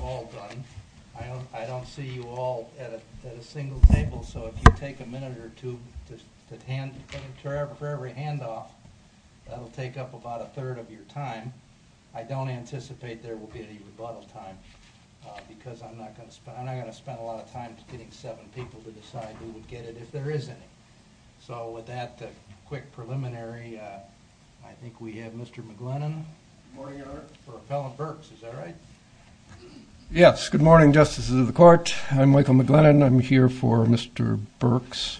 All done. I don't see you all at a single table, so if you take a minute or two for every handoff, that'll take up about a third of your time. I don't anticipate there will be any rebuttal time, because I'm not going to spend a lot of time getting seven people to decide who would get it if there is any. So with that quick preliminary, I think we have Mr. McGlennon for Appellant Burks. Is that right? Yes. Good morning, Justices of the Court. I'm Michael McGlennon. I'm here for Mr. Burks.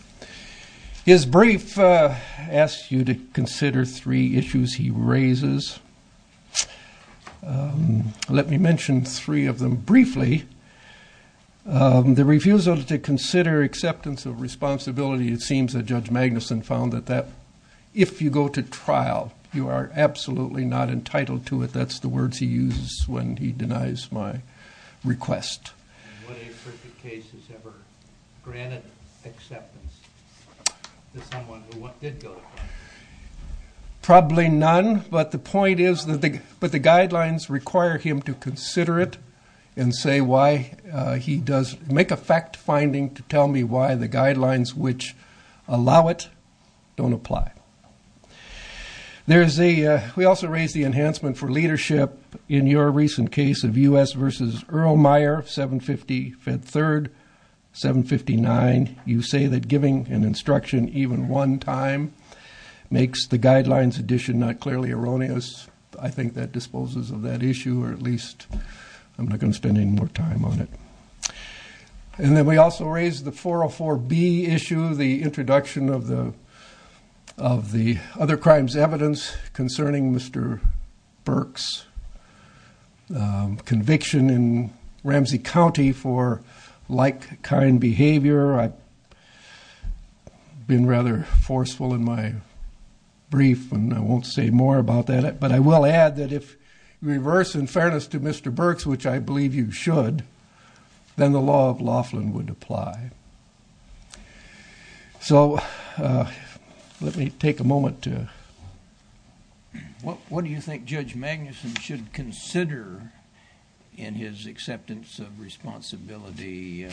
His brief asks you to consider three issues he raises. Let me mention three of them briefly. The refusal to consider acceptance of responsibility. It seems that Judge Magnuson found that if you go to trial, you are absolutely not entitled to it. That's the words he uses when he denies my request. What appropriate cases ever granted acceptance to someone who did go to trial? Probably none, but the point is that the guidelines require him to consider it and make a fact-finding to tell me why the guidelines which allow it don't apply. We also raise the enhancement for leadership in your recent case of U.S. v. Earl Meyer, 753rd, 759. You say that giving an instruction even one time makes the guidelines addition not clearly erroneous. I think that disposes of that issue, or at least I'm not going to spend any more time on it. And then we also raise the 404B issue, the introduction of the other crimes evidence concerning Mr. Burks' conviction in Ramsey County for like-kind behavior. I've been rather forceful in my brief, and I won't say more about that. But I will add that if reversed in fairness to Mr. Burks, which I believe you should, then the law of Laughlin would apply. So let me take a moment to... What do you think Judge Magnuson should consider in his acceptance of responsibility?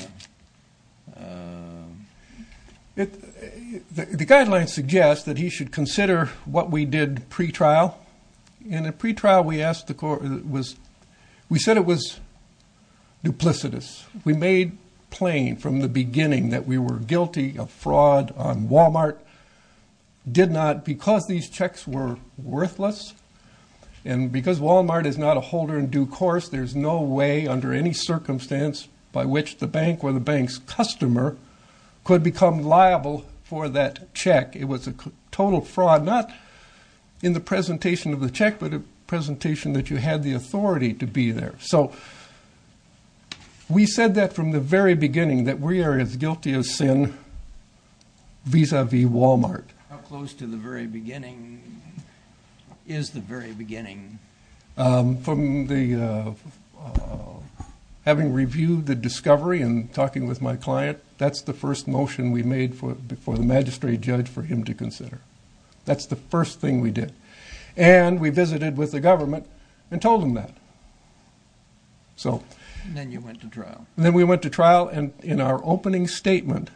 The guidelines suggest that he should consider what we did pre-trial. In the pre-trial, we said it was duplicitous. We made plain from the beginning that we were guilty of fraud on Walmart, did not because these checks were worthless. And because Walmart is not a holder in due course, there's no way under any circumstance by which the bank or the bank's customer could become liable for that check. It was a total fraud, not in the presentation of the check, but a presentation that you had the authority to be there. So we said that from the very beginning, that we are as guilty of sin vis-a-vis Walmart. How close to the very beginning is the very beginning? From the... Having reviewed the discovery and talking with my client, that's the first motion we made for the magistrate judge for him to consider. That's the first thing we did. And we visited with the government and told them that. And then you went to trial. Then we went to trial, and in our opening statement,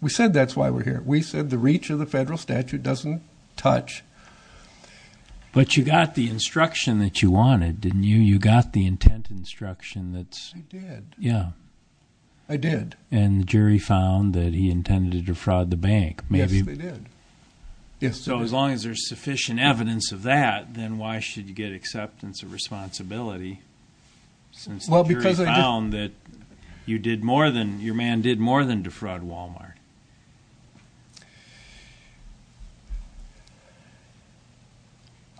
we said that's why we're here. We said the reach of the federal statute doesn't touch. But you got the instruction that you wanted, didn't you? You got the intent instruction that's... I did. Yeah. I did. And the jury found that he intended to defraud the bank. Yes, they did. So as long as there's sufficient evidence of that, then why should you get acceptance of responsibility? Since the jury found that you did more than, your man did more than defraud Walmart.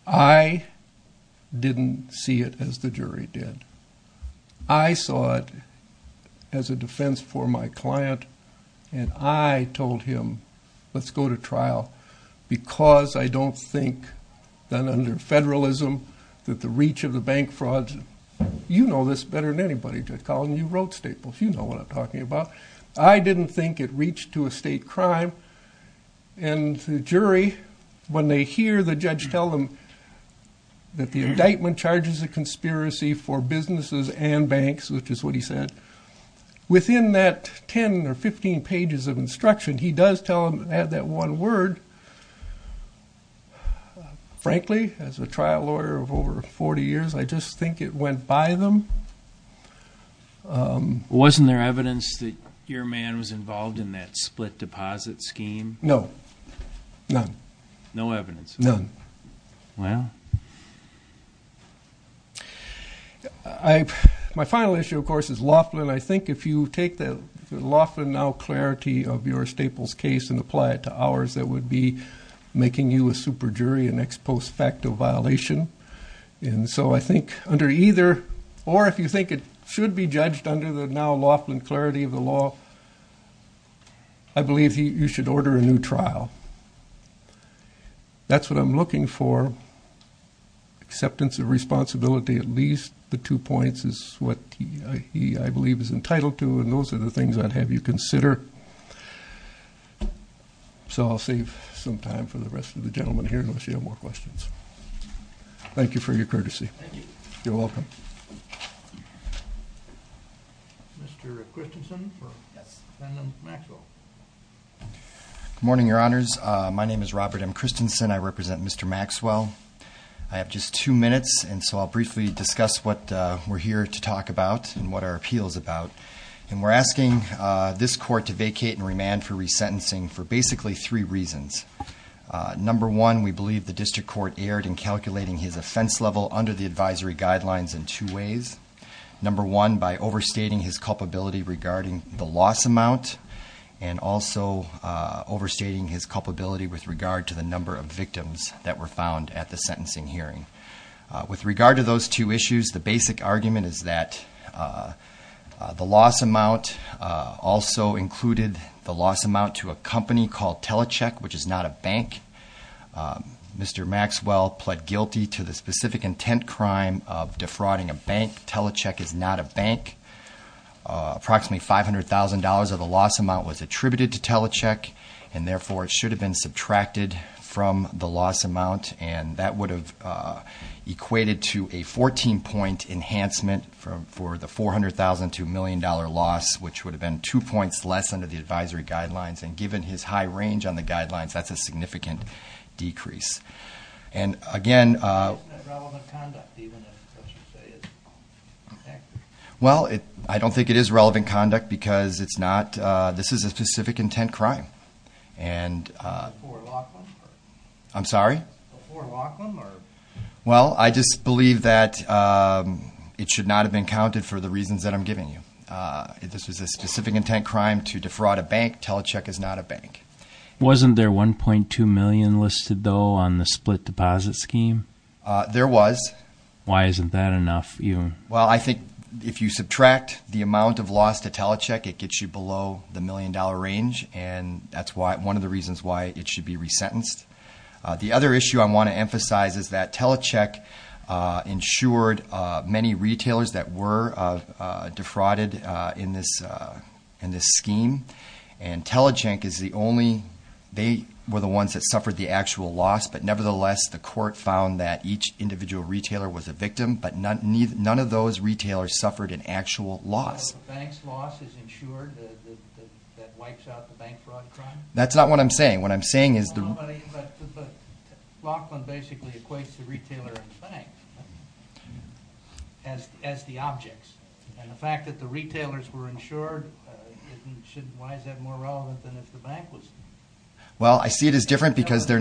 I didn't see it as the jury did. I saw it as a defense for my client, and I told him let's go to trial because I don't think that under federalism, that the reach of the bank frauds, you know this better than anybody did, Colin. You wrote staples. You know what I'm talking about. I didn't think it reached to a state crime. And the jury, when they hear the judge tell them that the indictment charges a conspiracy for businesses and banks, which is what he said, within that 10 or 15 pages of instruction, he does tell them, frankly, as a trial lawyer of over 40 years, I just think it went by them. Wasn't there evidence that your man was involved in that split deposit scheme? No. None. No evidence. None. Wow. My final issue, of course, is Laughlin. I think if you take the Laughlin now clarity of your staples case and apply it to ours, that would be making you a super jury, an ex post facto violation. And so I think under either, or if you think it should be judged under the now Laughlin clarity of the law, I believe you should order a new trial. That's what I'm looking for. Acceptance of responsibility, at least the two points, is what he, I believe, is entitled to. And those are the things I'd have you consider. So I'll save some time for the rest of the gentlemen here, unless you have more questions. Thank you for your courtesy. Thank you. You're welcome. Mr. Christensen for defendant Maxwell. Good morning, Your Honors. My name is Robert M. Christensen. I represent Mr. Maxwell. I have just two minutes, and so I'll briefly discuss what we're here to talk about and what our appeal is about. And we're asking this court to vacate and remand for resentencing for basically three reasons. Number one, we believe the district court erred in calculating his offense level under the advisory guidelines in two ways. Number one, by overstating his culpability regarding the loss amount and also overstating his culpability with regard to the number of victims that were found at the sentencing hearing. With regard to those two issues, the basic argument is that the loss amount also included the loss amount to a company called Telecheck, which is not a bank. Mr. Maxwell pled guilty to the specific intent crime of defrauding a bank. Telecheck is not a bank. Approximately $500,000 of the loss amount was attributed to Telecheck. And therefore, it should have been subtracted from the loss amount. And that would have equated to a 14-point enhancement for the $400,002 million loss, which would have been two points less under the advisory guidelines. And given his high range on the guidelines, that's a significant decrease. And again- Why isn't that relevant conduct, even if, let's just say, it's effective? Well, I don't think it is relevant conduct because this is a specific intent crime. And- Before Laughlin? I'm sorry? Before Laughlin, or- Well, I just believe that it should not have been counted for the reasons that I'm giving you. This is a specific intent crime to defraud a bank. Telecheck is not a bank. Wasn't there $1.2 million listed, though, on the split deposit scheme? There was. Why isn't that enough? Well, I think if you subtract the amount of loss to Telecheck, it gets you below the million-dollar range. And that's one of the reasons why it should be resentenced. The other issue I want to emphasize is that Telecheck insured many retailers that were defrauded in this scheme. And Telecheck is the only- They were the ones that suffered the actual loss. But nevertheless, the court found that each individual retailer was a victim, but none of those retailers suffered an actual loss. So the bank's loss is insured? That wipes out the bank fraud crime? That's not what I'm saying. What I'm saying is- But Laughlin basically equates the retailer and the bank as the objects. And the fact that the retailers were insured, why is that more relevant than if the bank was? Well, I see it as different because they're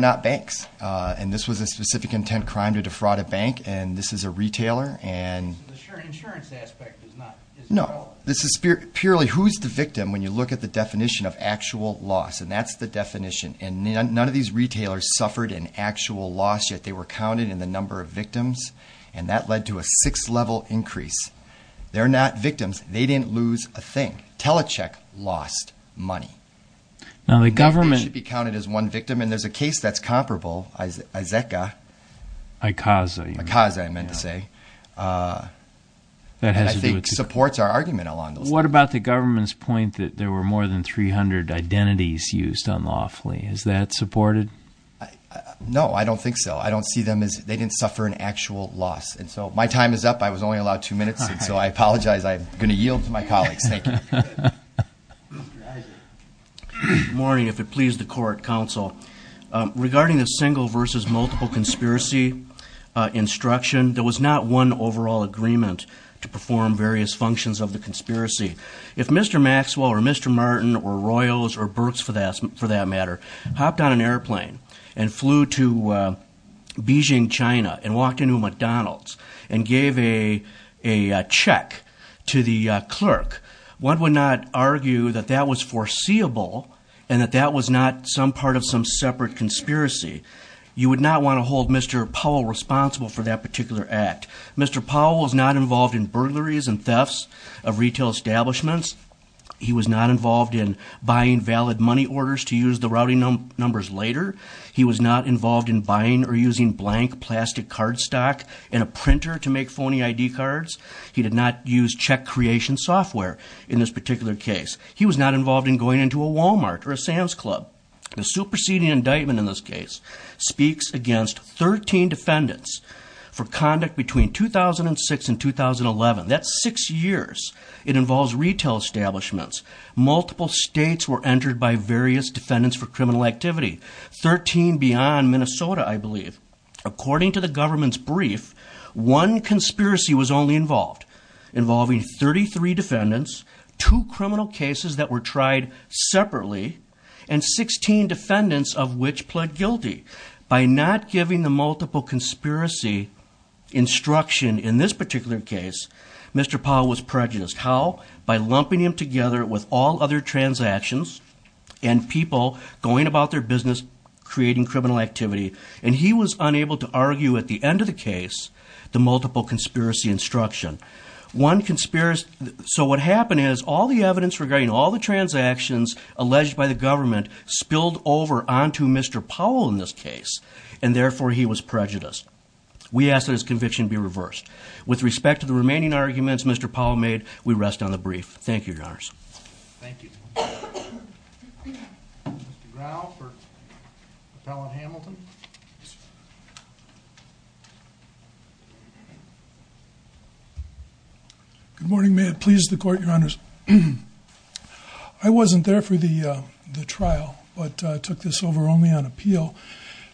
not banks. And this was a specific intent crime to defraud a bank, and this is a retailer. So the insurance aspect is not as relevant? No. This is purely who's the victim when you look at the definition of actual loss. And that's the definition. And none of these retailers suffered an actual loss, yet they were counted in the number of victims. And that led to a sixth-level increase. They're not victims. They didn't lose a thing. Telecheck lost money. They should be counted as one victim. And there's a case that's comparable, Izeka. ICAZA. ICAZA, I meant to say. That I think supports our argument along those lines. What about the government's point that there were more than 300 identities used on Laughlin? Is that supported? No, I don't think so. I don't see them as they didn't suffer an actual loss. And so my time is up. I was only allowed two minutes, and so I apologize. I'm going to yield to my colleagues. Thank you. Mr. Izaka. Good morning, if it pleases the court, counsel. Regarding the single versus multiple conspiracy instruction, there was not one overall agreement to perform various functions of the conspiracy. If Mr. Maxwell or Mr. Martin or Royals or Burks, for that matter, hopped on an airplane and flew to Beijing, China, and walked into a McDonald's and gave a check to the clerk, one would not argue that that was foreseeable and that that was not some part of some separate conspiracy. You would not want to hold Mr. Powell responsible for that particular act. Mr. Powell was not involved in burglaries and thefts of retail establishments. He was not involved in buying valid money orders to use the routing numbers later. He was not involved in buying or using blank plastic card stock and a printer to make phony ID cards. He did not use check creation software in this particular case. He was not involved in going into a Walmart or a Sam's Club. The superseding indictment in this case speaks against 13 defendants for conduct between 2006 and 2011. That's six years. It involves retail establishments. Multiple states were entered by various defendants for criminal activity. Thirteen beyond Minnesota, I believe. According to the government's brief, one conspiracy was only involved, involving 33 defendants, two criminal cases that were tried separately, and 16 defendants of which pled guilty. By not giving the multiple conspiracy instruction in this particular case, Mr. Powell was prejudiced. How? By lumping him together with all other transactions and people going about their business, creating criminal activity. And he was unable to argue at the end of the case the multiple conspiracy instruction. So what happened is all the evidence regarding all the transactions alleged by the government spilled over onto Mr. Powell in this case, and therefore he was prejudiced. We ask that his conviction be reversed. With respect to the remaining arguments Mr. Powell made, we rest on the brief. Thank you, Your Honors. Thank you. Mr. Grau for Appellant Hamilton. Good morning. May it please the Court, Your Honors. I wasn't there for the trial but took this over only on appeal.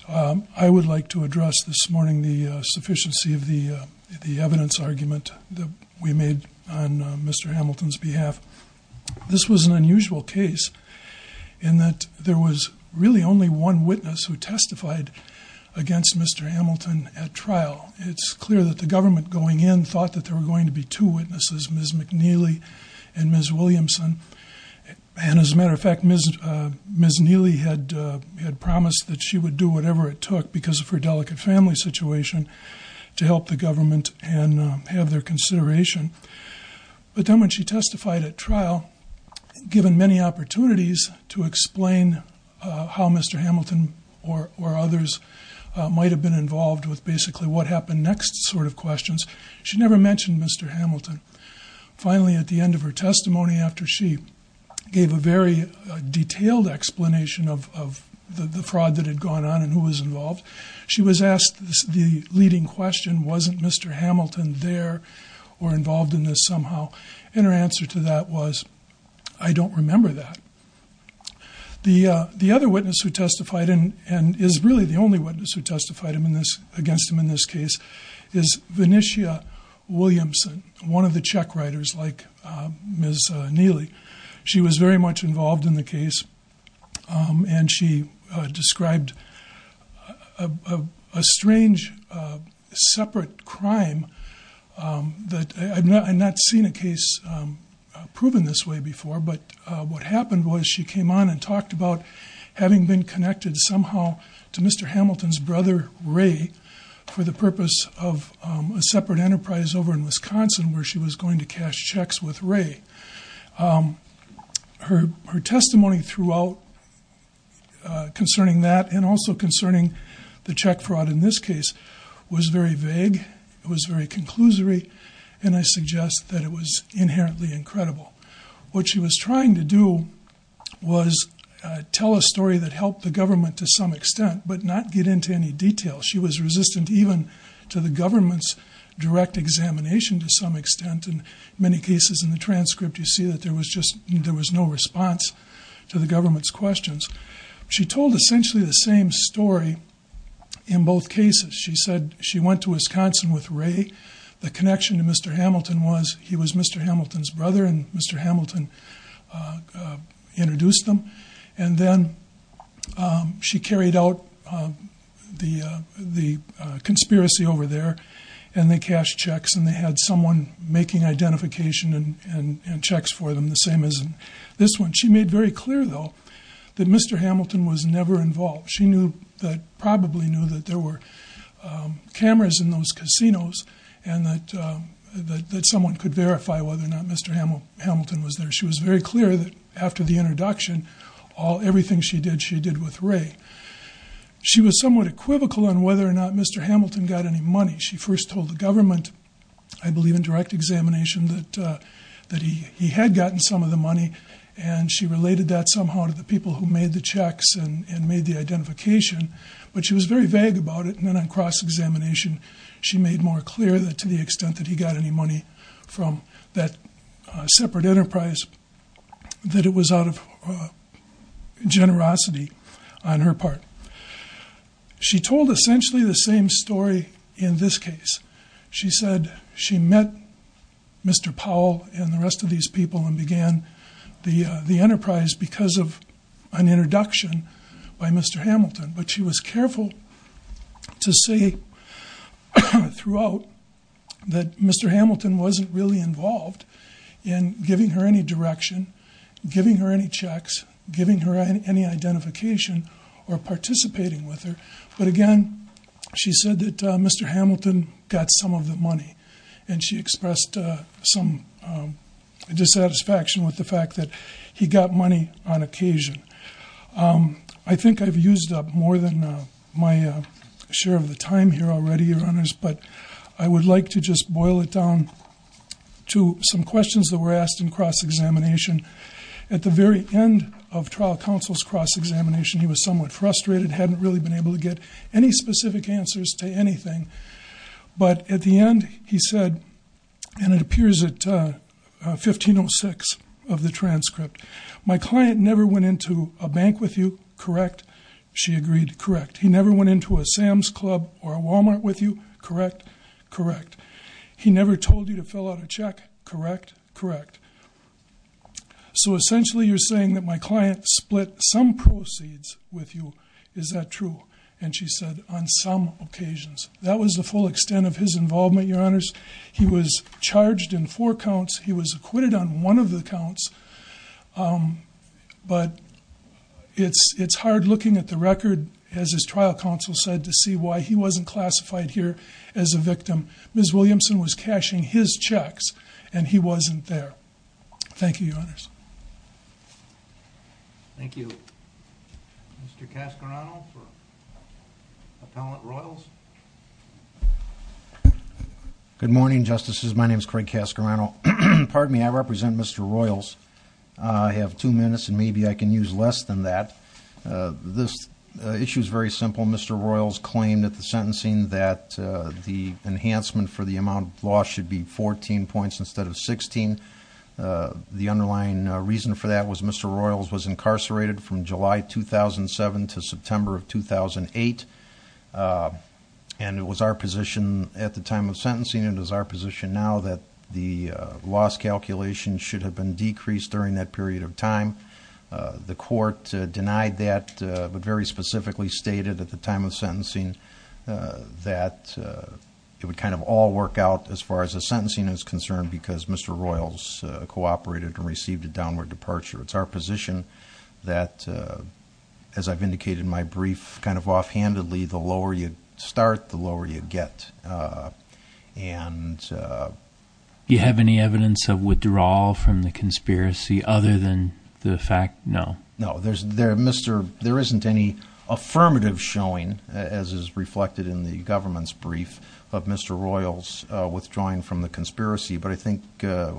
I would like to address this morning the sufficiency of the evidence argument that we made on Mr. Hamilton's behalf. This was an unusual case in that there was really only one witness who testified against Mr. Hamilton at trial. It's clear that the government going in thought that there were going to be two witnesses, Ms. McNeely and Ms. Williamson. As a matter of fact, Ms. Neely had promised that she would do whatever it took because of her delicate family situation to help the government and have their consideration. But then when she testified at trial, given many opportunities to explain how Mr. Hamilton or others might have been involved with basically what happened next sort of questions, she never mentioned Mr. Hamilton. Finally, at the end of her testimony after she gave a very detailed explanation of the fraud that had gone on and who was involved, she was asked the leading question, wasn't Mr. Hamilton there or involved in this somehow? Her answer to that was, I don't remember that. The other witness who testified and is really the only witness who testified against him in this case is Vinicia Williamson, one of the Czech writers like Ms. Neely. She was very much involved in the case, and she described a strange separate crime. I've not seen a case proven this way before, but what happened was she came on and talked about having been connected somehow to Mr. Hamilton's brother Ray for the purpose of a separate enterprise over in Wisconsin where she was going to cash checks with Ray. Her testimony throughout concerning that and also concerning the Czech fraud in this case was very vague. It was very conclusory, and I suggest that it was inherently incredible. What she was trying to do was tell a story that helped the government to some extent but not get into any detail. She was resistant even to the government's direct examination to some extent. In many cases in the transcript you see that there was no response to the government's questions. She told essentially the same story in both cases. She said she went to Wisconsin with Ray. The connection to Mr. Hamilton was he was Mr. Hamilton's brother, and Mr. Hamilton introduced them. Then she carried out the conspiracy over there, and they cashed checks, and they had someone making identification and checks for them, the same as in this one. She made very clear, though, that Mr. Hamilton was never involved. She probably knew that there were cameras in those casinos and that someone could verify whether or not Mr. Hamilton was there. She was very clear that after the introduction, everything she did, she did with Ray. She was somewhat equivocal on whether or not Mr. Hamilton got any money. She first told the government, I believe in direct examination, that he had gotten some of the money, and she related that somehow to the people who made the checks and made the identification. But she was very vague about it, and then on cross-examination she made more clear that to the extent that he got any money from that separate enterprise, that it was out of generosity on her part. She told essentially the same story in this case. She said she met Mr. Powell and the rest of these people and began the enterprise because of an introduction by Mr. Hamilton, but she was careful to say throughout that Mr. Hamilton wasn't really involved in giving her any direction, giving her any checks, giving her any identification, or participating with her. But again, she said that Mr. Hamilton got some of the money, and she expressed some dissatisfaction with the fact that he got money on occasion. I think I've used up more than my share of the time here already, Your Honors, but I would like to just boil it down to some questions that were asked in cross-examination. At the very end of trial counsel's cross-examination he was somewhat frustrated, hadn't really been able to get any specific answers to anything, but at the end he said, and it appears at 1506 of the transcript, my client never went into a bank with you, correct? She agreed, correct. He never went into a Sam's Club or a Walmart with you, correct? Correct. He never told you to fill out a check, correct? Correct. So essentially you're saying that my client split some proceeds with you, is that true? And she said on some occasions. That was the full extent of his involvement, Your Honors. He was charged in four counts. He was acquitted on one of the counts. But it's hard looking at the record, as his trial counsel said, to see why he wasn't classified here as a victim. Ms. Williamson was cashing his checks and he wasn't there. Thank you, Your Honors. Thank you. Mr. Cascorano for Appellant Royals. Good morning, Justices. My name is Craig Cascorano. Pardon me, I represent Mr. Royals. I have two minutes, and maybe I can use less than that. This issue is very simple. Mr. Royals claimed at the sentencing that the enhancement for the amount lost should be 14 points instead of 16. The underlying reason for that was Mr. Royals was incarcerated from July 2007 to September of 2008. And it was our position at the time of sentencing, and it is our position now, that the loss calculation should have been decreased during that period of time. The court denied that, but very specifically stated at the time of sentencing that it would kind of all work out, as far as the sentencing is concerned, because Mr. Royals cooperated and received a downward departure. It's our position that, as I've indicated in my brief kind of offhandedly, the lower you start, the lower you get. Do you have any evidence of withdrawal from the conspiracy other than the fact? No. No. There isn't any affirmative showing, as is reflected in the government's brief, of Mr. Royals withdrawing from the conspiracy. But I think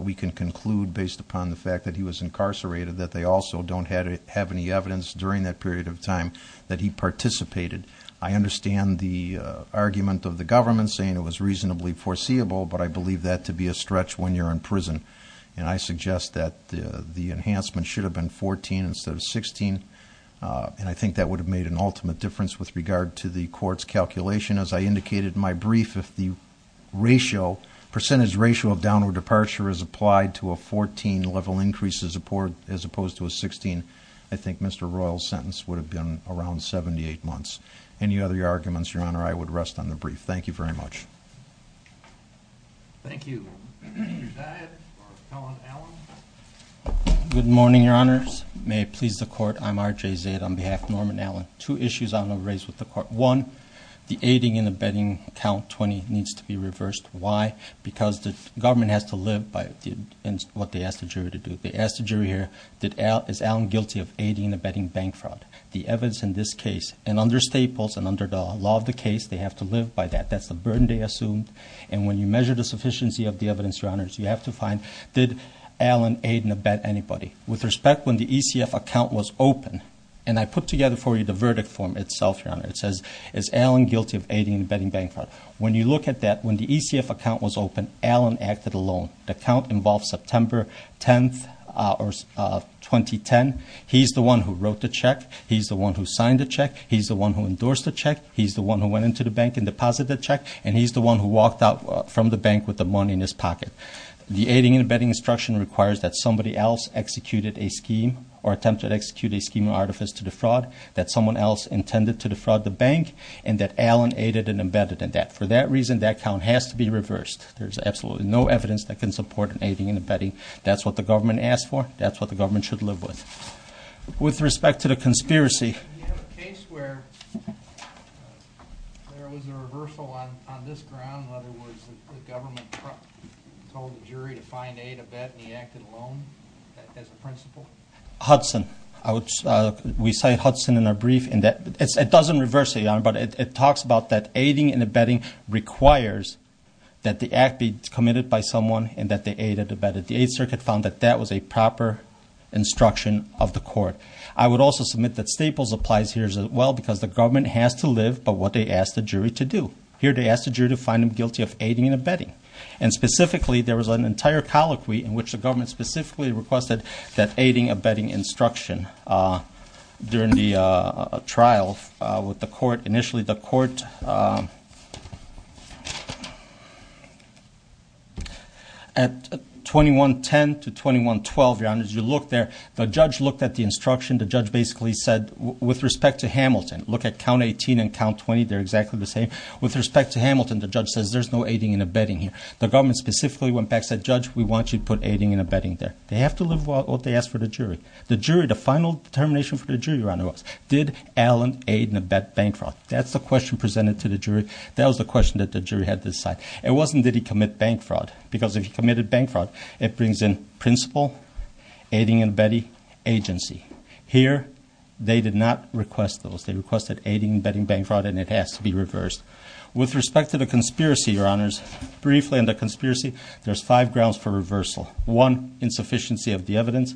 we can conclude, based upon the fact that he was incarcerated, that they also don't have any evidence during that period of time that he participated. I understand the argument of the government saying it was reasonably foreseeable, but I believe that to be a stretch when you're in prison. And I suggest that the enhancement should have been 14 instead of 16, and I think that would have made an ultimate difference with regard to the court's calculation. As I indicated in my brief, if the percentage ratio of downward departure is applied to a 14-level increase as opposed to a 16, I think Mr. Royals' sentence would have been around 78 months. Any other arguments, Your Honor? I would rest on the brief. Thank you very much. Thank you. Mr. Zaid or Helen Allen? Good morning, Your Honors. May it please the Court, I'm R.J. Zaid on behalf of Norman Allen. Two issues I want to raise with the Court. One, the aiding and abetting count 20 needs to be reversed. Why? Because the government has to live by what they asked the jury to do. They asked the jury here, is Allen guilty of aiding and abetting bank fraud? The evidence in this case, and under Staples and under the law of the case, they have to live by that. That's the burden they assumed. And when you measure the sufficiency of the evidence, Your Honors, you have to find, did Allen aid and abet anybody? With respect, when the ECF account was open, and I put together for you the verdict form itself, Your Honor, it says, is Allen guilty of aiding and abetting bank fraud? When you look at that, when the ECF account was open, Allen acted alone. The count involves September 10, 2010. He's the one who wrote the check. He's the one who signed the check. He's the one who endorsed the check. He's the one who went into the bank and deposited the check. And he's the one who walked out from the bank with the money in his pocket. The aiding and abetting instruction requires that somebody else executed a scheme or attempted to execute a scheme or artifice to defraud, that someone else intended to defraud the bank, and that Allen aided and abetted in that. For that reason, that count has to be reversed. There's absolutely no evidence that can support an aiding and abetting. That's what the government asked for. That's what the government should live with. With respect to the conspiracy. Do you have a case where there was a reversal on this ground? In other words, the government told the jury to find, aid, abet, and he acted alone as a principal? Hudson. We cite Hudson in our brief. It doesn't reverse it, Your Honor, but it talks about that aiding and abetting requires that the act be committed by someone and that they aid and abet it. The Eighth Circuit found that that was a proper instruction of the court. I would also submit that Staples applies here as well because the government has to live by what they ask the jury to do. Here they ask the jury to find them guilty of aiding and abetting. And specifically, there was an entire colloquy in which the government specifically requested that aiding, abetting instruction during the trial with the court. At 2110 to 2112, Your Honor, as you look there, the judge looked at the instruction. The judge basically said, with respect to Hamilton, look at count 18 and count 20. They're exactly the same. With respect to Hamilton, the judge says there's no aiding and abetting here. The government specifically went back and said, Judge, we want you to put aiding and abetting there. They have to live by what they ask for the jury. The jury, the final determination for the jury, Your Honor, was did Allen aid and abet Bancroft? That's the question presented to the jury. That was the question that the jury had to decide. It wasn't did he commit Bancroft because if he committed Bancroft, it brings in principal, aiding and abetting, agency. Here, they did not request those. They requested aiding and abetting Bancroft, and it has to be reversed. With respect to the conspiracy, Your Honors, briefly on the conspiracy, there's five grounds for reversal. One, insufficiency of the evidence.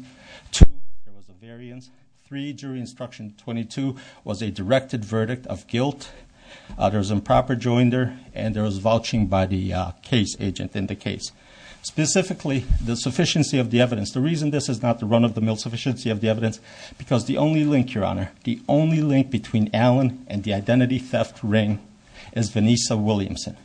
Two, there was a variance. Three, jury instruction 22 was a directed verdict of guilt. There was improper joinder, and there was vouching by the case agent in the case. Specifically, the sufficiency of the evidence. The reason this is not the run of the mill sufficiency of the evidence, because the only link, Your Honor, the only link between Allen and the identity theft ring is Vanessa Williamson.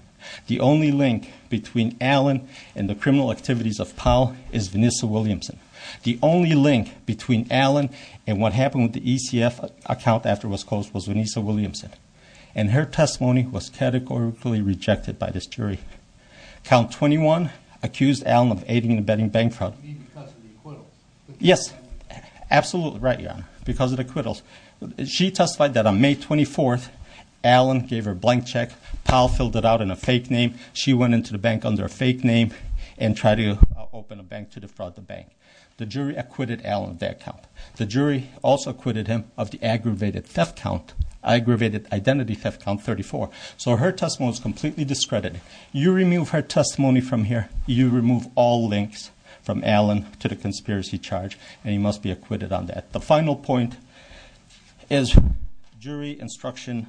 The only link between Allen and the criminal activities of Powell is Vanessa Williamson. The only link between Allen and what happened with the ECF account after it was closed was Vanessa Williamson. And her testimony was categorically rejected by this jury. Count 21 accused Allen of aiding and abetting Bancroft. You mean because of the acquittal? Yes, absolutely right, Your Honor, because of the acquittals. She testified that on May 24th, Allen gave her a blank check. Powell filled it out in a fake name. She went into the bank under a fake name and tried to open a bank to defraud the bank. The jury acquitted Allen of that count. The jury also acquitted him of the aggravated theft count, aggravated identity theft count 34. So her testimony was completely discredited. You remove her testimony from here, you remove all links from Allen to the conspiracy charge, and he must be acquitted on that. The final point is jury instruction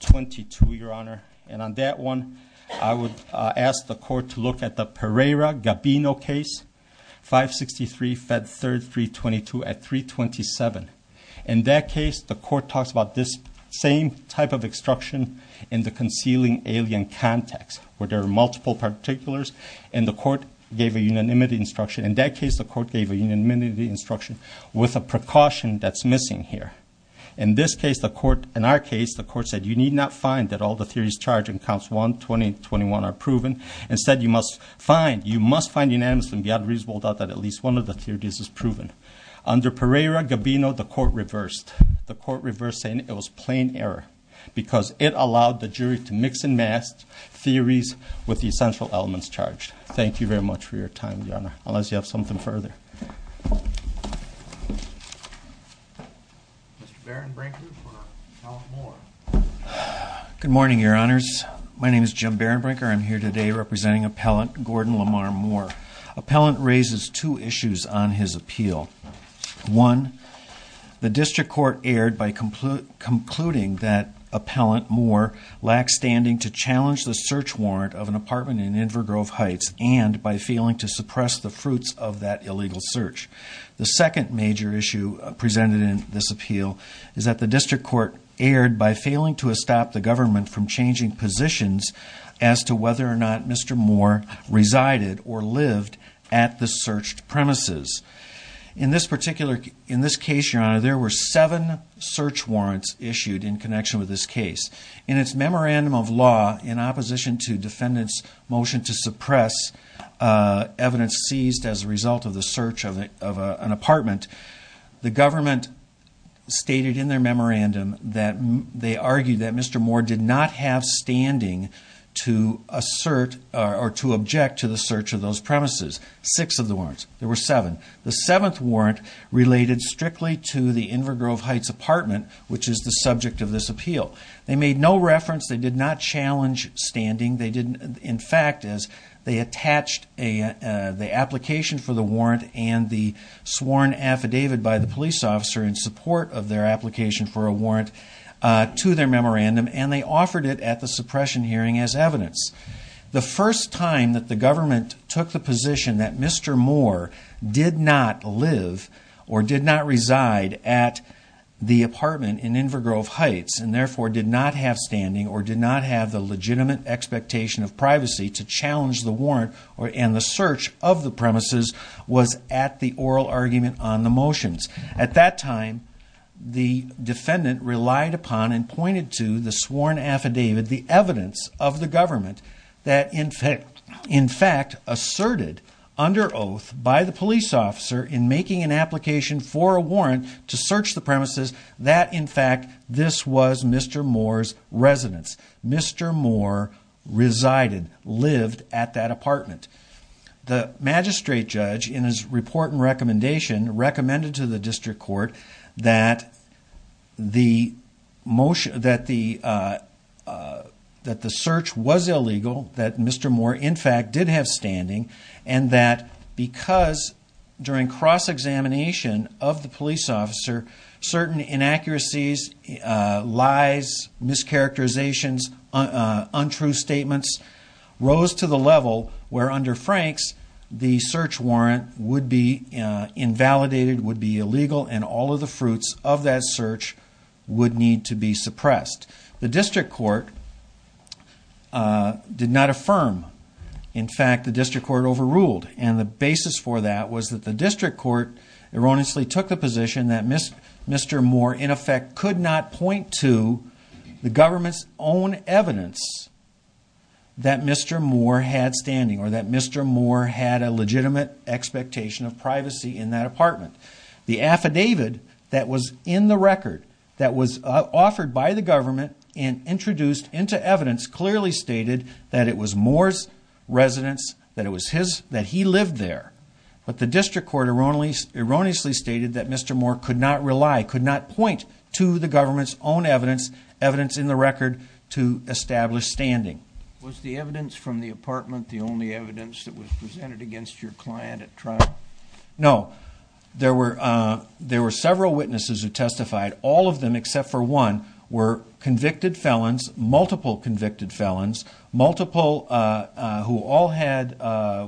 22, Your Honor. And on that one, I would ask the court to look at the Pereira-Gabino case, 563-Fed 3, 322 at 327. In that case, the court talks about this same type of instruction in the concealing alien context, where there are multiple particulars. And the court gave a unanimity instruction. In that case, the court gave a unanimity instruction with a precaution that's missing here. In this case, the court, in our case, the court said you need not find that all the theories charged in counts 1, 20, and 21 are proven. Instead, you must find, you must find unanimously beyond reasonable doubt that at least one of the theories is proven. Under Pereira-Gabino, the court reversed. The court reversed, saying it was plain error, because it allowed the jury to mix and match theories with the essential elements charged. Thank you very much for your time, Your Honor. Unless you have something further. Mr. Barenbrinker for Ralph Moore. Good morning, Your Honors. My name is Jim Barenbrinker. I'm here today representing Appellant Gordon Lamar Moore. Appellant raises two issues on his appeal. One, the district court erred by concluding that Appellant Moore lacked standing to challenge the search warrant of an apartment in Invergrove Heights and by failing to suppress the fruits of that illegal search. The second major issue presented in this appeal is that the district court erred by failing to stop the government from changing positions as to whether or not Mr. Moore resided or lived at the searched premises. In this case, Your Honor, there were seven search warrants issued in connection with this case. In its memorandum of law, in opposition to defendants' motion to suppress evidence seized as a result of the search of an apartment, the government stated in their memorandum that they argued that Mr. Moore did not have standing to assert or to object to the search of those premises. Six of the warrants. There were seven. The seventh warrant related strictly to the Invergrove Heights apartment, which is the subject of this appeal. They made no reference. They did not challenge standing. They didn't. In fact, they attached the application for the warrant and the sworn affidavit by the police officer in support of their application for a warrant to their memorandum, and they offered it at the suppression hearing as evidence. The first time that the government took the position that Mr. Moore did not live or did not reside at the apartment in Invergrove Heights and therefore did not have standing or did not have the legitimate expectation of privacy to challenge the warrant and the search of the premises was at the oral argument on the motions. At that time, the defendant relied upon and pointed to the sworn affidavit, the evidence of the government, that in fact asserted under oath by the police officer in making an application for a warrant to search the premises, that in fact this was Mr. Moore's residence. Mr. Moore resided, lived at that apartment. The magistrate judge in his report and recommendation recommended to the district court that the search was illegal, that Mr. Moore in fact did have standing, and that because during cross-examination of the police officer, certain inaccuracies, lies, mischaracterizations, untrue statements rose to the level where under Frank's the search warrant would be invalidated, would be illegal, and all of the fruits of that search would need to be suppressed. The district court did not affirm. In fact, the district court overruled, and the basis for that was that the district court erroneously took the position that Mr. Moore in effect could not point to the government's own evidence that Mr. Moore had standing, or that Mr. Moore had a legitimate expectation of privacy in that apartment. The affidavit that was in the record, that was offered by the government and introduced into evidence, clearly stated that it was Moore's residence, that he lived there. But the district court erroneously stated that Mr. Moore could not rely, could not point to the government's own evidence in the record to establish standing. Was the evidence from the apartment the only evidence that was presented against your client at trial? No. There were several witnesses who testified. All of them, except for one, were convicted felons, multiple convicted felons, who all had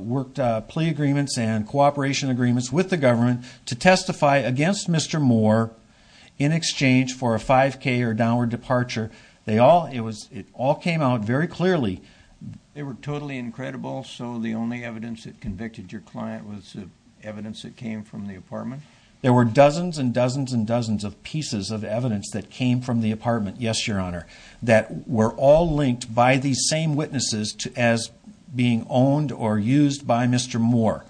worked plea agreements and cooperation agreements with the government to testify against Mr. Moore in exchange for a 5K or downward departure. It all came out very clearly. They were totally incredible, so the only evidence that convicted your client was evidence that came from the apartment? There were dozens and dozens and dozens of pieces of evidence that came from the apartment, yes, Your Honor, that were all linked by these same witnesses as being owned or used by Mr. Moore.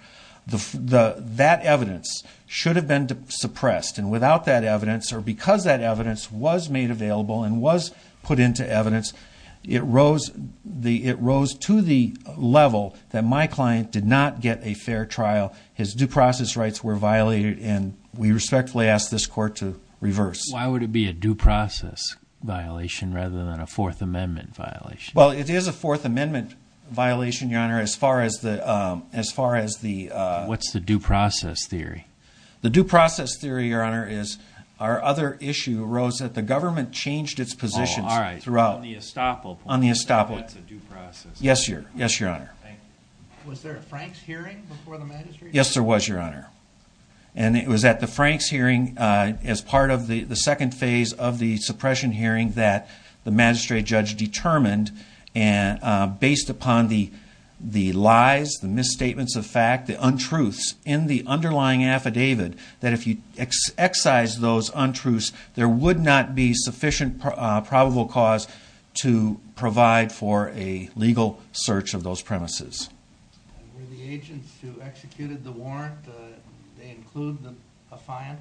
That evidence should have been suppressed, and without that evidence, or because that evidence was made available and was put into evidence, it rose to the level that my client did not get a fair trial. His due process rights were violated, and we respectfully ask this court to reverse. Why would it be a due process violation rather than a Fourth Amendment violation? Well, it is a Fourth Amendment violation, Your Honor, as far as the— What's the due process theory? The due process theory, Your Honor, is our other issue arose that the government changed its positions throughout. Oh, all right, on the estoppel point. On the estoppel. That's a due process. Yes, Your Honor. Thank you. Was there a Franks hearing before the magistrate? Yes, there was, Your Honor. And it was at the Franks hearing as part of the second phase of the suppression hearing that the magistrate judge determined, based upon the lies, the misstatements of fact, the untruths in the underlying affidavit, that if you excise those untruths, there would not be sufficient probable cause to provide for a legal search of those premises. And were the agents who executed the warrant, they include the affiant?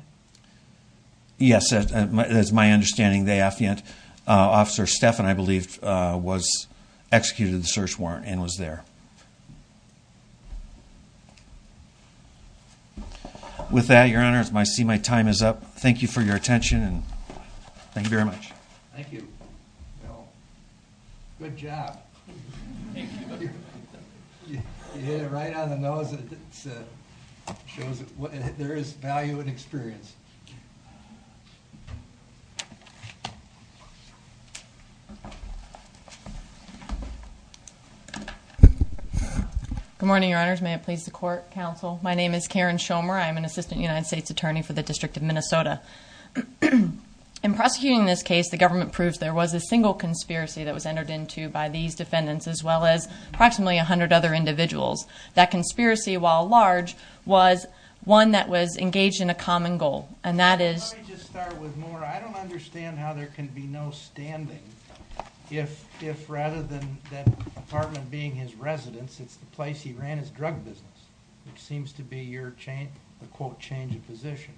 Yes, as my understanding, the affiant officer, Stephan, I believe, was executed in the search warrant and was there. With that, Your Honor, I see my time is up. Thank you for your attention, and thank you very much. Thank you, Bill. Good job. Thank you. You hit it right on the nose. It shows there is value in experience. Good morning, Your Honors. May it please the court, counsel. My name is Karen Schomer. I'm an assistant United States attorney for the District of Minnesota. In prosecuting this case, the government proved there was a single conspiracy that was entered into by these defendants, as well as approximately 100 other individuals. That conspiracy, while large, was one that was engaged in a common goal, and that is- Let me just start with more. I don't understand how there can be no standing if, rather than that apartment being his residence, it's the place he ran his drug business, which seems to be your, quote, change of position.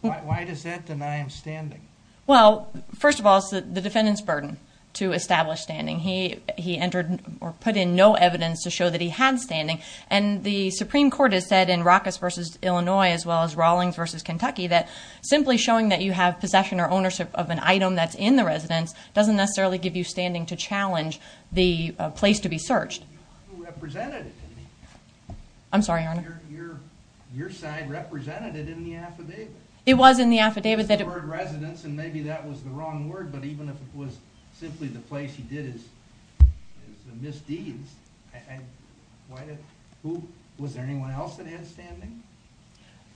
Why does that deny him standing? Well, first of all, it's the defendant's burden to establish standing. He entered or put in no evidence to show that he had standing, and the Supreme Court has said in Rockus v. Illinois, as well as Rawlings v. Kentucky, that simply showing that you have possession or ownership of an item that's in the residence doesn't necessarily give you standing to challenge the place to be searched. You represented it to me. I'm sorry, Your Honor. Your side represented it in the affidavit. It was in the affidavit that it- The word residence, and maybe that was the wrong word, but even if it was simply the place he did his misdeeds, was there anyone else that had standing?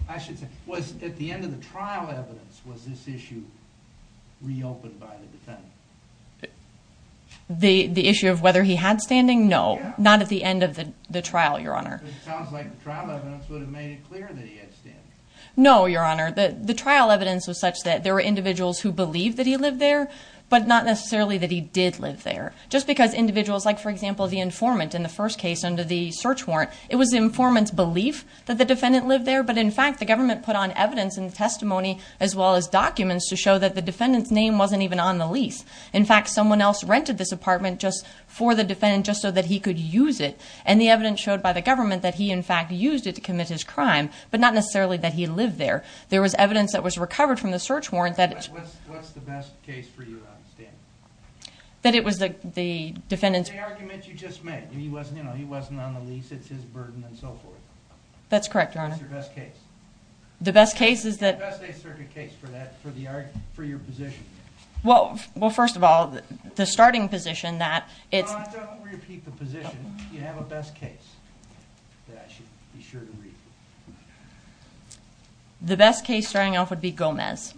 I should say, at the end of the trial evidence, was this issue reopened by the defendant? The issue of whether he had standing? No. Not at the end of the trial, Your Honor. It sounds like the trial evidence would have made it clear that he had standing. No, Your Honor. The trial evidence was such that there were individuals who believed that he lived there, but not necessarily that he did live there. Just because individuals, like, for example, the informant in the first case under the search warrant, it was the informant's belief that the defendant lived there, but in fact the government put on evidence and testimony, as well as documents, to show that the defendant's name wasn't even on the lease. In fact, someone else rented this apartment for the defendant just so that he could use it, and the evidence showed by the government that he, in fact, used it to commit his crime, but not necessarily that he lived there. There was evidence that was recovered from the search warrant that it's... What's the best case for your understanding? That it was the defendant's... The argument you just made. He wasn't on the lease, it's his burden, and so forth. That's correct, Your Honor. What's your best case? The best case is that... What's the best case for your position? Well, first of all, the starting position that it's... Your Honor, don't repeat the position. You have a best case that I should be sure to read. The best case starting off would be Gomez.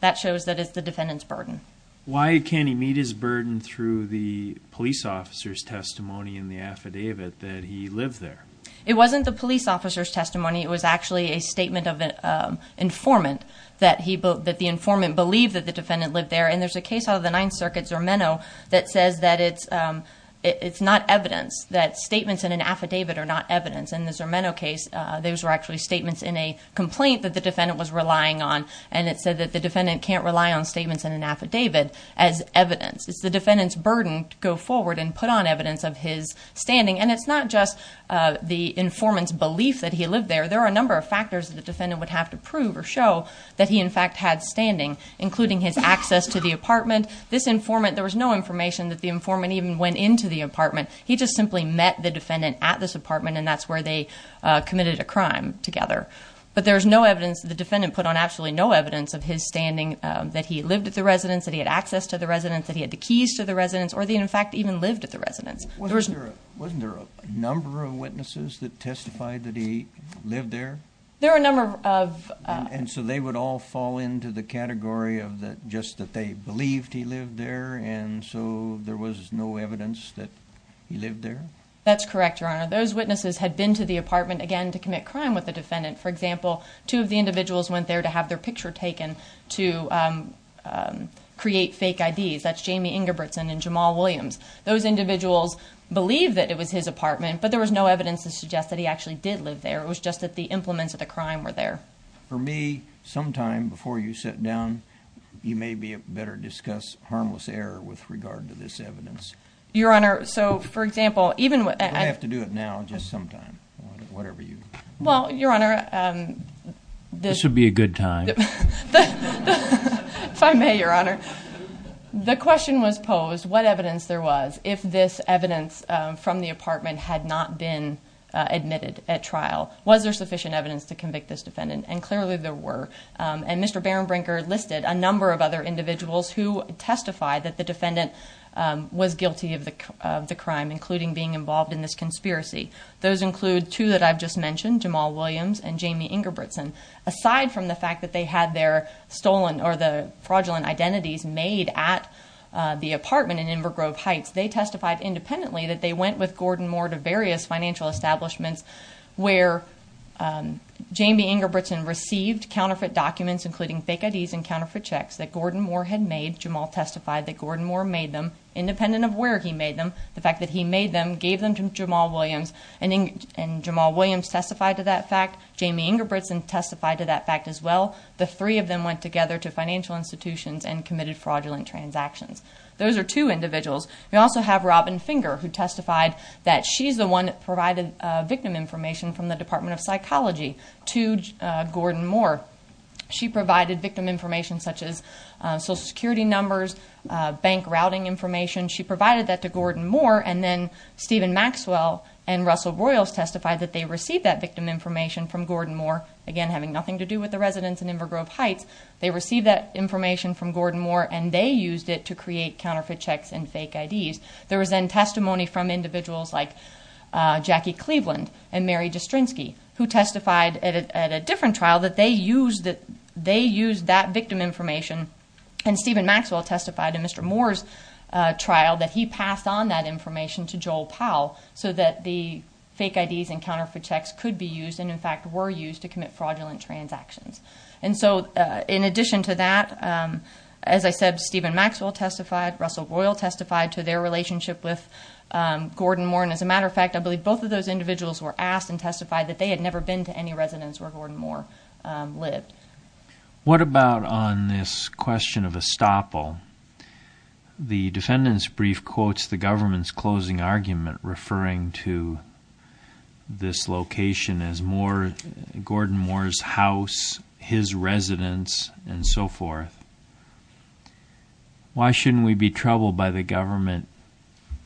That shows that it's the defendant's burden. Why can't he meet his burden through the police officer's testimony in the affidavit that he lived there? It wasn't the police officer's testimony. It was actually a statement of an informant that the informant believed that the defendant lived there, and there's a case out of the Ninth Circuit, Zermeno, that says that it's not evidence, that statements in an affidavit are not evidence. In the Zermeno case, those were actually statements in a complaint that the defendant was relying on, and it said that the defendant can't rely on statements in an affidavit as evidence. It's the defendant's burden to go forward and put on evidence of his standing, and it's not just the informant's belief that he lived there. There are a number of factors that the defendant would have to prove or show that he, in fact, had standing, including his access to the apartment. This informant, there was no information that the informant even went into the apartment. He just simply met the defendant at this apartment, and that's where they committed a crime together. But there's no evidence, the defendant put on absolutely no evidence of his standing, that he lived at the residence, that he had access to the residence, that he had the keys to the residence, or that he, in fact, even lived at the residence. Wasn't there a number of witnesses that testified that he lived there? There were a number of. And so they would all fall into the category of just that they believed he lived there, and so there was no evidence that he lived there? That's correct, Your Honor. Those witnesses had been to the apartment, again, to commit crime with the defendant. For example, two of the individuals went there to have their picture taken to create fake IDs. That's Jamie Ingebrigtsen and Jamal Williams. Those individuals believed that it was his apartment, but there was no evidence to suggest that he actually did live there. It was just that the implements of the crime were there. For me, sometime before you sit down, you may better discuss harmless error with regard to this evidence. Your Honor, so, for example, even when I— You may have to do it now, just sometime, whatever you— Well, Your Honor— This would be a good time. If I may, Your Honor, the question was posed, what evidence there was, if this evidence from the apartment had not been admitted at trial? Was there sufficient evidence to convict this defendant? And clearly there were, and Mr. Barenbrinker listed a number of other individuals who testified that the defendant was guilty of the crime, including being involved in this conspiracy. Those include two that I've just mentioned, Jamal Williams and Jamie Ingebrigtsen. Aside from the fact that they had their stolen or the fraudulent identities made at the apartment in Invergrove Heights, they testified independently that they went with Gordon Moore to various financial establishments where Jamie Ingebrigtsen received counterfeit documents, including fake IDs and counterfeit checks, that Gordon Moore had made. Jamal testified that Gordon Moore made them, independent of where he made them. The fact that he made them, gave them to Jamal Williams, and Jamal Williams testified to that fact. Jamie Ingebrigtsen testified to that fact as well. The three of them went together to financial institutions and committed fraudulent transactions. Those are two individuals. We also have Robin Finger, who testified that she's the one that provided victim information from the Department of Psychology to Gordon Moore. She provided victim information such as Social Security numbers, bank routing information. She provided that to Gordon Moore, and then Stephen Maxwell and Russell Royals testified that they received that victim information from Gordon Moore, again having nothing to do with the residents in Invergrove Heights. They received that information from Gordon Moore, and they used it to create counterfeit checks and fake IDs. There was then testimony from individuals like Jackie Cleveland and Mary Jastrzynski, who testified at a different trial that they used that victim information, and Stephen Maxwell testified in Mr. Moore's trial that he passed on that information to Joel Powell so that the fake IDs and counterfeit checks could be used and, in fact, were used to commit fraudulent transactions. And so in addition to that, as I said, Stephen Maxwell testified, Russell Royal testified to their relationship with Gordon Moore, and as a matter of fact, I believe both of those individuals were asked and testified that they had never been to any residence where Gordon Moore lived. What about on this question of estoppel? The defendant's brief quotes the government's closing argument referring to this location as Gordon Moore's house, his residence, and so forth. Why shouldn't we be troubled by the government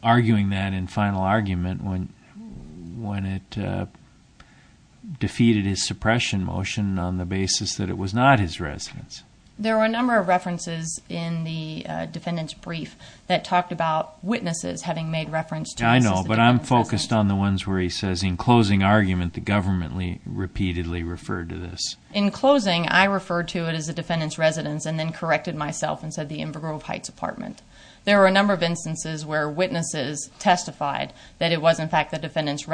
arguing that in final argument when it defeated his suppression motion on the basis that it was not his residence? There were a number of references in the defendant's brief that talked about Yeah, I know, but I'm focused on the ones where he says in closing argument the government repeatedly referred to this. In closing, I referred to it as the defendant's residence and then corrected myself and said the Invergrove Heights apartment. There were a number of instances where witnesses testified that it was, in fact, the defendant's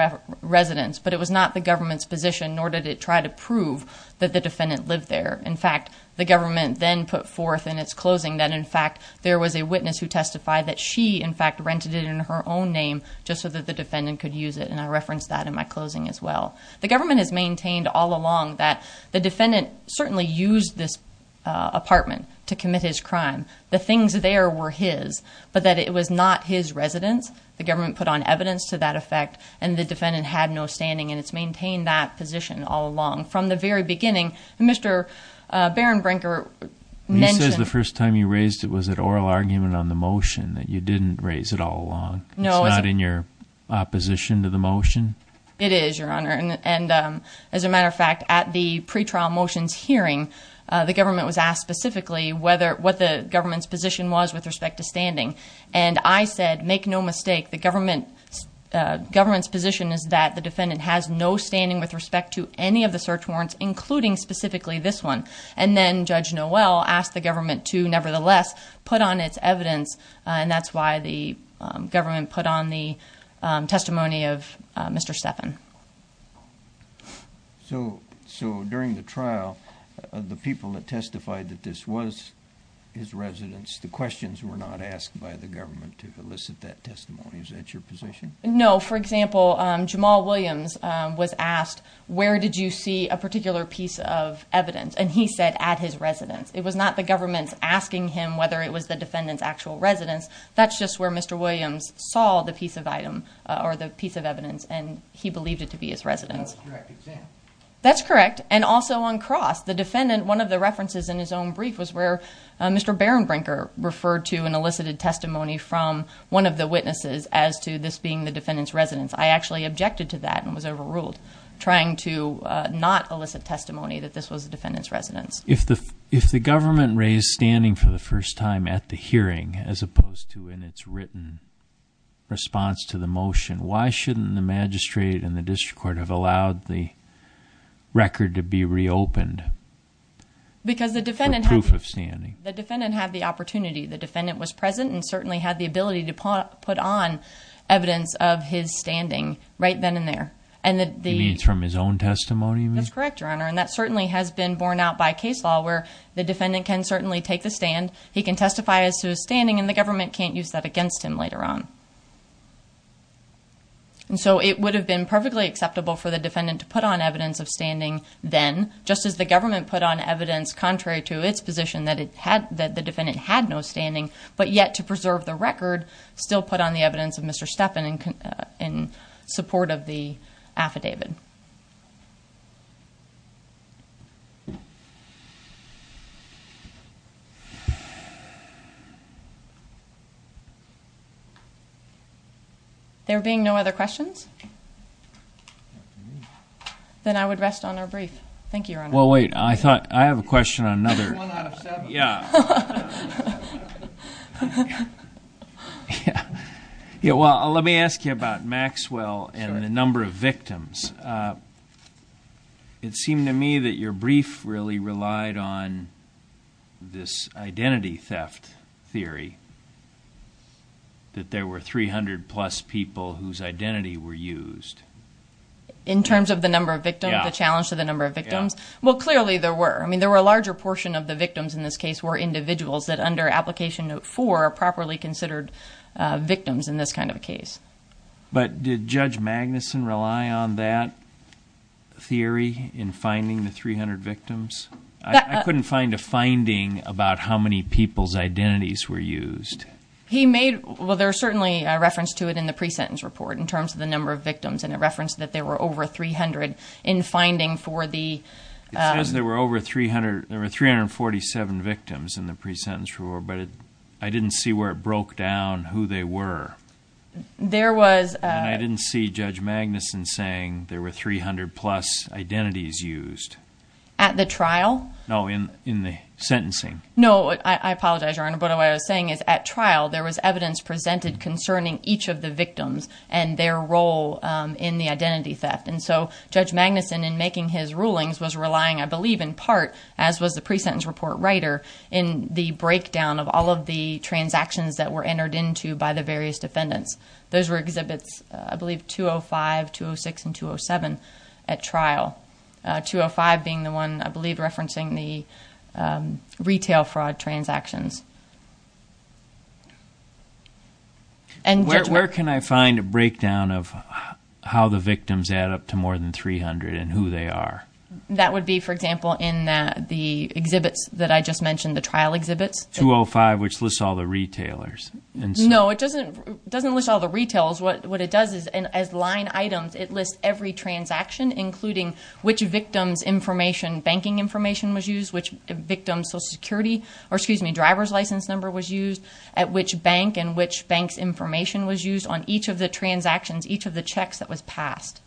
residence, but it was not the government's position, nor did it try to prove that the defendant lived there. In fact, the government then put forth in its closing that, in fact, there was a witness who testified that she, in fact, rented it in her own name just so that the defendant could use it, and I referenced that in my closing as well. The government has maintained all along that the defendant certainly used this apartment to commit his crime. The things there were his, but that it was not his residence. The government put on evidence to that effect, and the defendant had no standing, and it's maintained that position all along. From the very beginning, Mr. Barenbrinker mentioned the first time you raised it was at oral argument on the motion, that you didn't raise it all along. It's not in your opposition to the motion? It is, Your Honor. As a matter of fact, at the pretrial motions hearing, the government was asked specifically what the government's position was with respect to standing, and I said, make no mistake, the government's position is that the defendant has no standing with respect to any of the search warrants, including specifically this one. And then Judge Noel asked the government to nevertheless put on its evidence, and that's why the government put on the testimony of Mr. Steffen. So during the trial, the people that testified that this was his residence, the questions were not asked by the government to elicit that testimony. Is that your position? No. For example, Jamal Williams was asked, where did you see a particular piece of evidence? And he said, at his residence. It was not the government asking him whether it was the defendant's actual residence. That's just where Mr. Williams saw the piece of item or the piece of evidence, and he believed it to be his residence. That was a direct example. That's correct. And also on cross, the defendant, one of the references in his own brief was where Mr. Barenbrinker referred to an elicited testimony from one of the witnesses as to this being the defendant's residence. I actually objected to that and was overruled, trying to not elicit testimony that this was the defendant's residence. If the government raised standing for the first time at the hearing as opposed to in its written response to the motion, why shouldn't the magistrate and the district court have allowed the record to be reopened for proof of standing? Because the defendant had the opportunity. The defendant was present and certainly had the ability to put on evidence of his standing right then and there. You mean it's from his own testimony? That's correct, Your Honor, and that certainly has been borne out by case law where the defendant can certainly take the stand, he can testify as to his standing, and the government can't use that against him later on. And so it would have been perfectly acceptable for the defendant to put on evidence of standing then, just as the government put on evidence, contrary to its position that the defendant had no standing, but yet to preserve the record, still put on the evidence of Mr. Steppen in support of the affidavit. There being no other questions, then I would rest on our brief. Thank you, Your Honor. Well, wait, I have a question on another. Yeah. Yeah, well, let me ask you about Maxwell and the number of victims. It seemed to me that your brief really relied on this identity theft theory, that there were 300-plus people whose identity were used. In terms of the number of victims, the challenge to the number of victims? Yeah. Well, clearly there were. I mean, there were a larger portion of the victims in this case were individuals that under Application Note 4 are properly considered victims in this kind of a case. But did Judge Magnuson rely on that theory in finding the 300 victims? I couldn't find a finding about how many people's identities were used. He made – well, there's certainly a reference to it in the pre-sentence report in terms of the number of victims, and it referenced that there were over 300 in finding for the – It says there were over 300 – there were 347 victims in the pre-sentence report, but I didn't see where it broke down who they were. There was – And I didn't see Judge Magnuson saying there were 300-plus identities used. At the trial? No, in the sentencing. No, I apologize, Your Honor, but what I was saying is at trial, there was evidence presented concerning each of the victims and their role in the identity theft. And so Judge Magnuson, in making his rulings, was relying, I believe in part, as was the pre-sentence report writer, in the breakdown of all of the transactions that were entered into by the various defendants. Those were Exhibits, I believe, 205, 206, and 207 at trial, 205 being the one, I believe, referencing the retail fraud transactions. Where can I find a breakdown of how the victims add up to more than 300 and who they are? That would be, for example, in the Exhibits that I just mentioned, the trial Exhibits. 205, which lists all the retailers. No, it doesn't list all the retailers. What it does is, as line items, it lists every transaction, including which victim's information, banking information was used, which victim's driver's license number was used, at which bank and which bank's information was used on each of the transactions, each of the checks that was passed.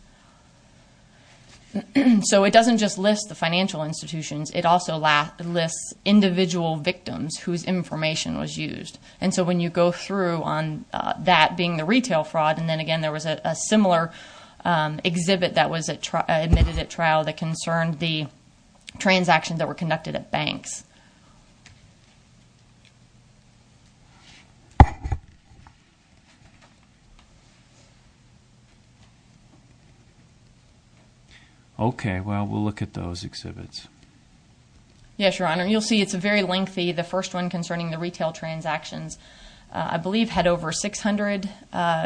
So it doesn't just list the financial institutions. It also lists individual victims whose information was used. And so when you go through on that being the retail fraud, and then again there was a similar Exhibit that was admitted at trial that concerned the transactions that were conducted at banks. Okay. Well, we'll look at those Exhibits. Yes, Your Honor. You'll see it's very lengthy. The first one concerning the retail transactions, I believe, had over 600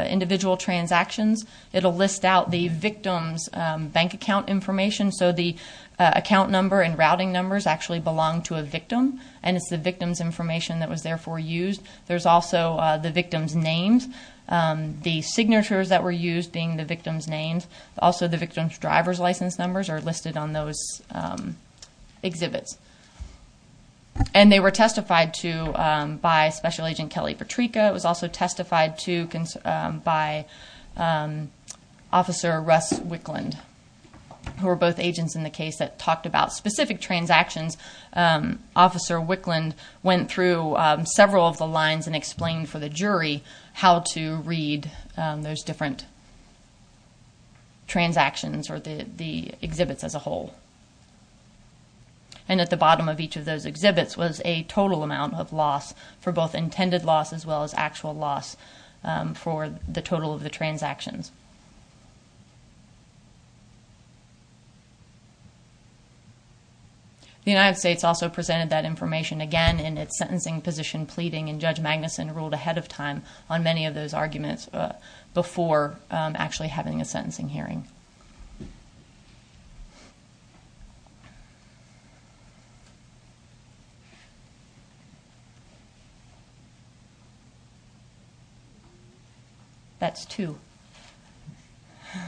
individual transactions. It'll list out the victim's bank account information. So the account number and routing numbers actually belong to a victim, and it's the victim's information that was therefore used. There's also the victim's names, the signatures that were used being the victim's names, also the victim's driver's license numbers are listed on those Exhibits. And they were testified to by Special Agent Kelly Patryka. It was also testified to by Officer Russ Wickland, who were both agents in the case that talked about specific transactions. Officer Wickland went through several of the lines and explained for the jury how to read those different transactions or the Exhibits as a whole. And at the bottom of each of those Exhibits was a total amount of loss for both intended loss as well as actual loss for the total of the transactions. The United States also presented that information again in its sentencing position pleading, and Judge Magnuson ruled ahead of time on many of those arguments before actually having a sentencing hearing. That's two. Do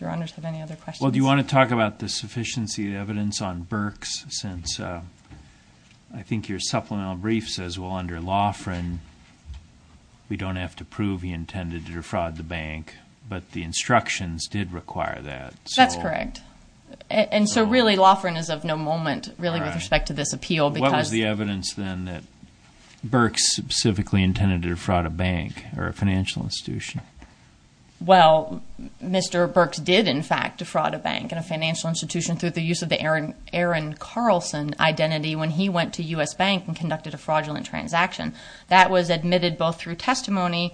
your honors have any other questions? Well, do you want to talk about the sufficiency of evidence on Berks since I think your supplemental brief says, well, under Loughran, we don't have to prove he intended to defraud the bank, but the instructions did require that. That's correct. And so, really, Loughran is of no moment, really, with respect to this appeal. What was the evidence then that Berks specifically intended to defraud a bank or a financial institution? Well, Mr. Berks did, in fact, defraud a bank and a financial institution through the use of the Aaron Carlson identity when he went to U.S. Bank and conducted a fraudulent transaction. That was admitted both through testimony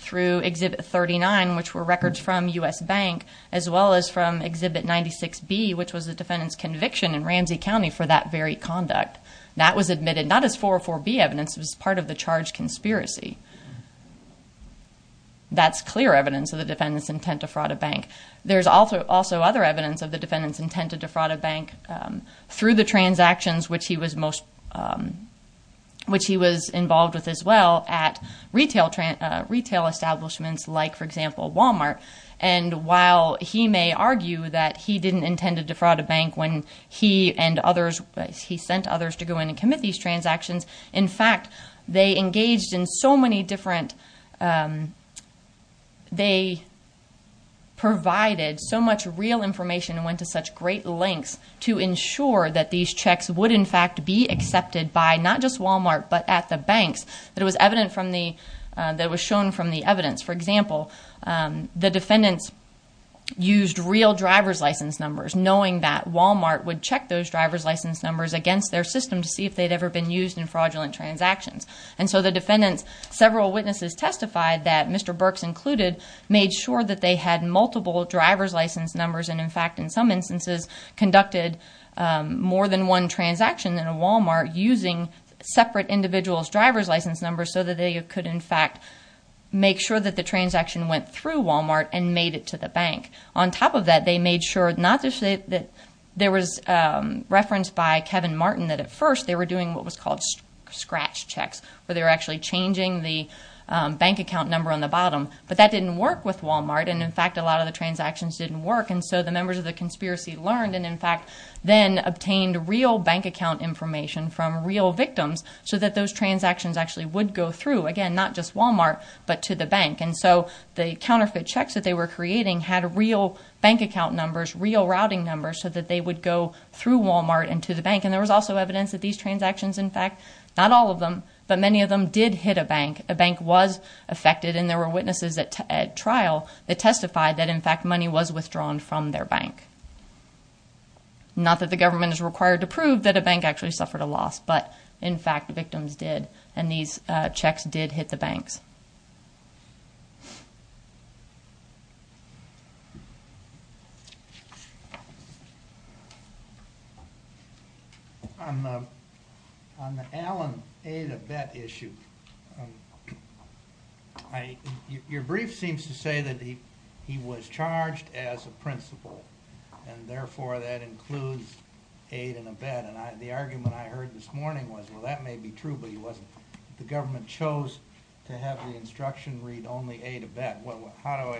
through Exhibit 39, which were records from U.S. Bank, as well as from Exhibit 96B, which was the defendant's conviction in Ramsey County for that very conduct. That was admitted not as 404B evidence. It was part of the charge conspiracy. That's clear evidence of the defendant's intent to fraud a bank. There's also other evidence of the defendant's intent to defraud a bank through the transactions which he was involved with as well at retail establishments like, for example, Walmart. And while he may argue that he didn't intend to defraud a bank when he sent others to go in and commit these transactions, in fact, they engaged in so many different – they provided so much real information and went to such great lengths to ensure that these checks would, in fact, be accepted by not just Walmart but at the banks that was shown from the evidence. For example, the defendants used real driver's license numbers, knowing that Walmart would check those driver's license numbers against their system to see if they'd ever been used in fraudulent transactions. So the defendants, several witnesses testified that, Mr. Burks included, made sure that they had multiple driver's license numbers and, in fact, in some instances conducted more than one transaction in a Walmart using separate individuals' driver's license numbers so that they could, in fact, make sure that the transaction went through Walmart and made it to the bank. On top of that, they made sure not just that there was reference by Kevin Martin that at first they were doing what was called scratch checks where they were actually changing the bank account number on the bottom. But that didn't work with Walmart, and, in fact, a lot of the transactions didn't work. And so the members of the conspiracy learned and, in fact, then obtained real bank account information from real victims so that those transactions actually would go through, again, not just Walmart but to the bank. And so the counterfeit checks that they were creating had real bank account numbers, real routing numbers so that they would go through Walmart and to the bank. And there was also evidence that these transactions, in fact, not all of them, but many of them did hit a bank. A bank was affected, and there were witnesses at trial that testified that, in fact, money was withdrawn from their bank. Not that the government is required to prove that a bank actually suffered a loss, but, in fact, victims did. And these checks did hit the banks. On the Allen aid and abet issue, your brief seems to say that he was charged as a principal, and, therefore, that includes aid and abet. And the argument I heard this morning was, well, that may be true, but he wasn't. The government chose to have the instruction read only aid and abet. How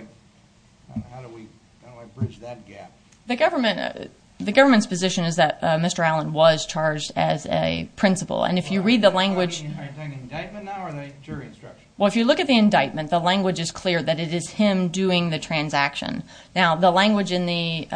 do I bridge that gap? The government's position is that Mr. Allen was charged as a principal. And if you read the language... Are you talking indictment now or the jury instruction? Well, if you look at the indictment, the language is clear that it is him doing the transaction. Now, the language in the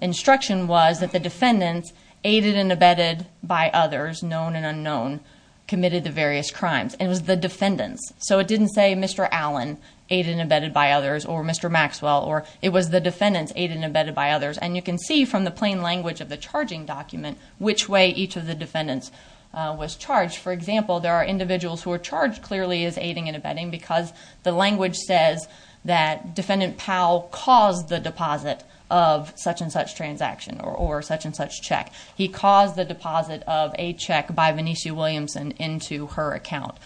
instruction was that the defendants, aided and abetted by others, known and unknown, committed the various crimes. It was the defendants. So it didn't say Mr. Allen, aided and abetted by others, or Mr. Maxwell. It was the defendants, aided and abetted by others. And you can see from the plain language of the charging document which way each of the defendants was charged. For example, there are individuals who are charged clearly as aiding and abetting because the language says that Defendant Powell caused the deposit of such-and-such transaction or such-and-such check. He caused the deposit of a check by Venetia Williamson into her account.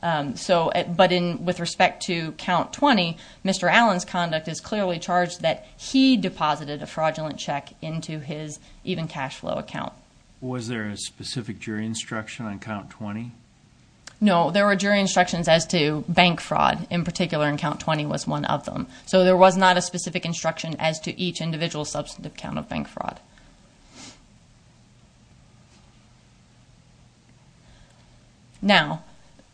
But with respect to Count 20, Mr. Allen's conduct is clearly charged that he deposited a fraudulent check into his Even Cash Flow account. Was there a specific jury instruction on Count 20? No, there were jury instructions as to bank fraud in particular, and Count 20 was one of them. So there was not a specific instruction as to each individual's substantive account of bank fraud. Now,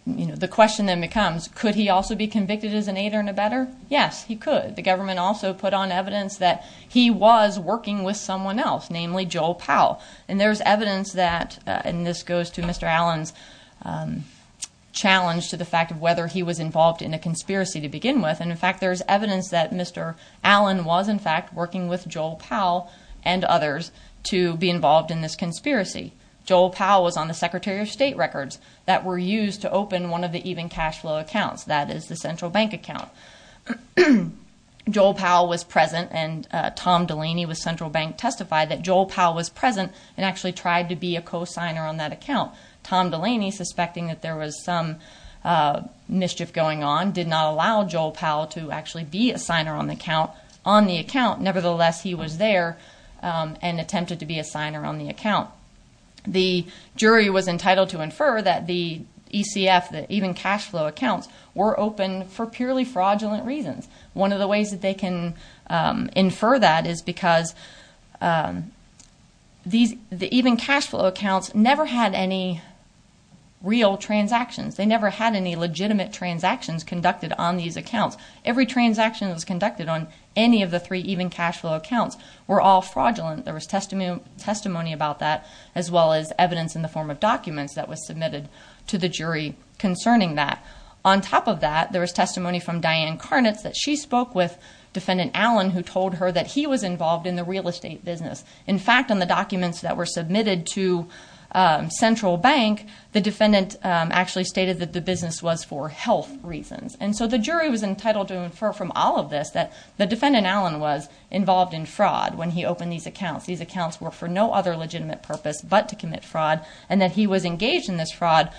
the question then becomes, could he also be convicted as an aider and abetter? Yes, he could. The government also put on evidence that he was working with someone else, namely Joel Powell. And there's evidence that, and this goes to Mr. Allen's challenge to the fact of whether he was involved in a conspiracy to begin with. And, in fact, there's evidence that Mr. Allen was, in fact, working with Joel Powell and others to be involved in this conspiracy. Joel Powell was on the Secretary of State records that were used to open one of the Even Cash Flow accounts, that is, the central bank account. Joel Powell was present, and Tom Delaney with Central Bank testified that he was present and actually tried to be a co-signer on that account. Tom Delaney, suspecting that there was some mischief going on, did not allow Joel Powell to actually be a signer on the account. Nevertheless, he was there and attempted to be a signer on the account. The jury was entitled to infer that the ECF, the Even Cash Flow accounts, were open for purely fraudulent reasons. One of the ways that they can infer that is because the Even Cash Flow accounts never had any real transactions. They never had any legitimate transactions conducted on these accounts. Every transaction that was conducted on any of the three Even Cash Flow accounts were all fraudulent. There was testimony about that, as well as evidence in the form of documents that was submitted to the jury concerning that. On top of that, there was testimony from Diane Carnitz that she spoke with Defendant Allen, who told her that he was involved in the real estate business. In fact, on the documents that were submitted to Central Bank, the defendant actually stated that the business was for health reasons. And so the jury was entitled to infer from all of this that the defendant, Allen, was involved in fraud when he opened these accounts. These accounts were for no other legitimate purpose but to commit fraud, and that he was engaged in this fraud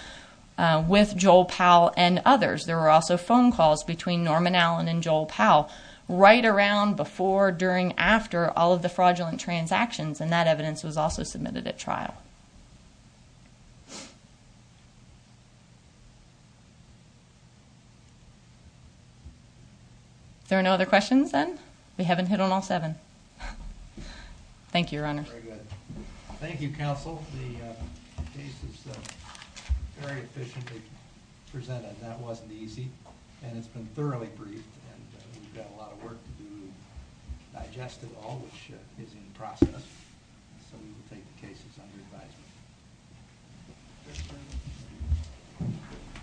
with Joel Powell and others. There were also phone calls between Norman Allen and Joel Powell right around before, during, after all of the fraudulent transactions, and that evidence was also submitted at trial. Are there no other questions, then? Thank you, Your Honor. Thank you, Counsel. The case is very efficiently presented, and that wasn't easy. And it's been thoroughly briefed, and we've got a lot of work to do to digest it all, which is in the process. So we will take the cases under advisement.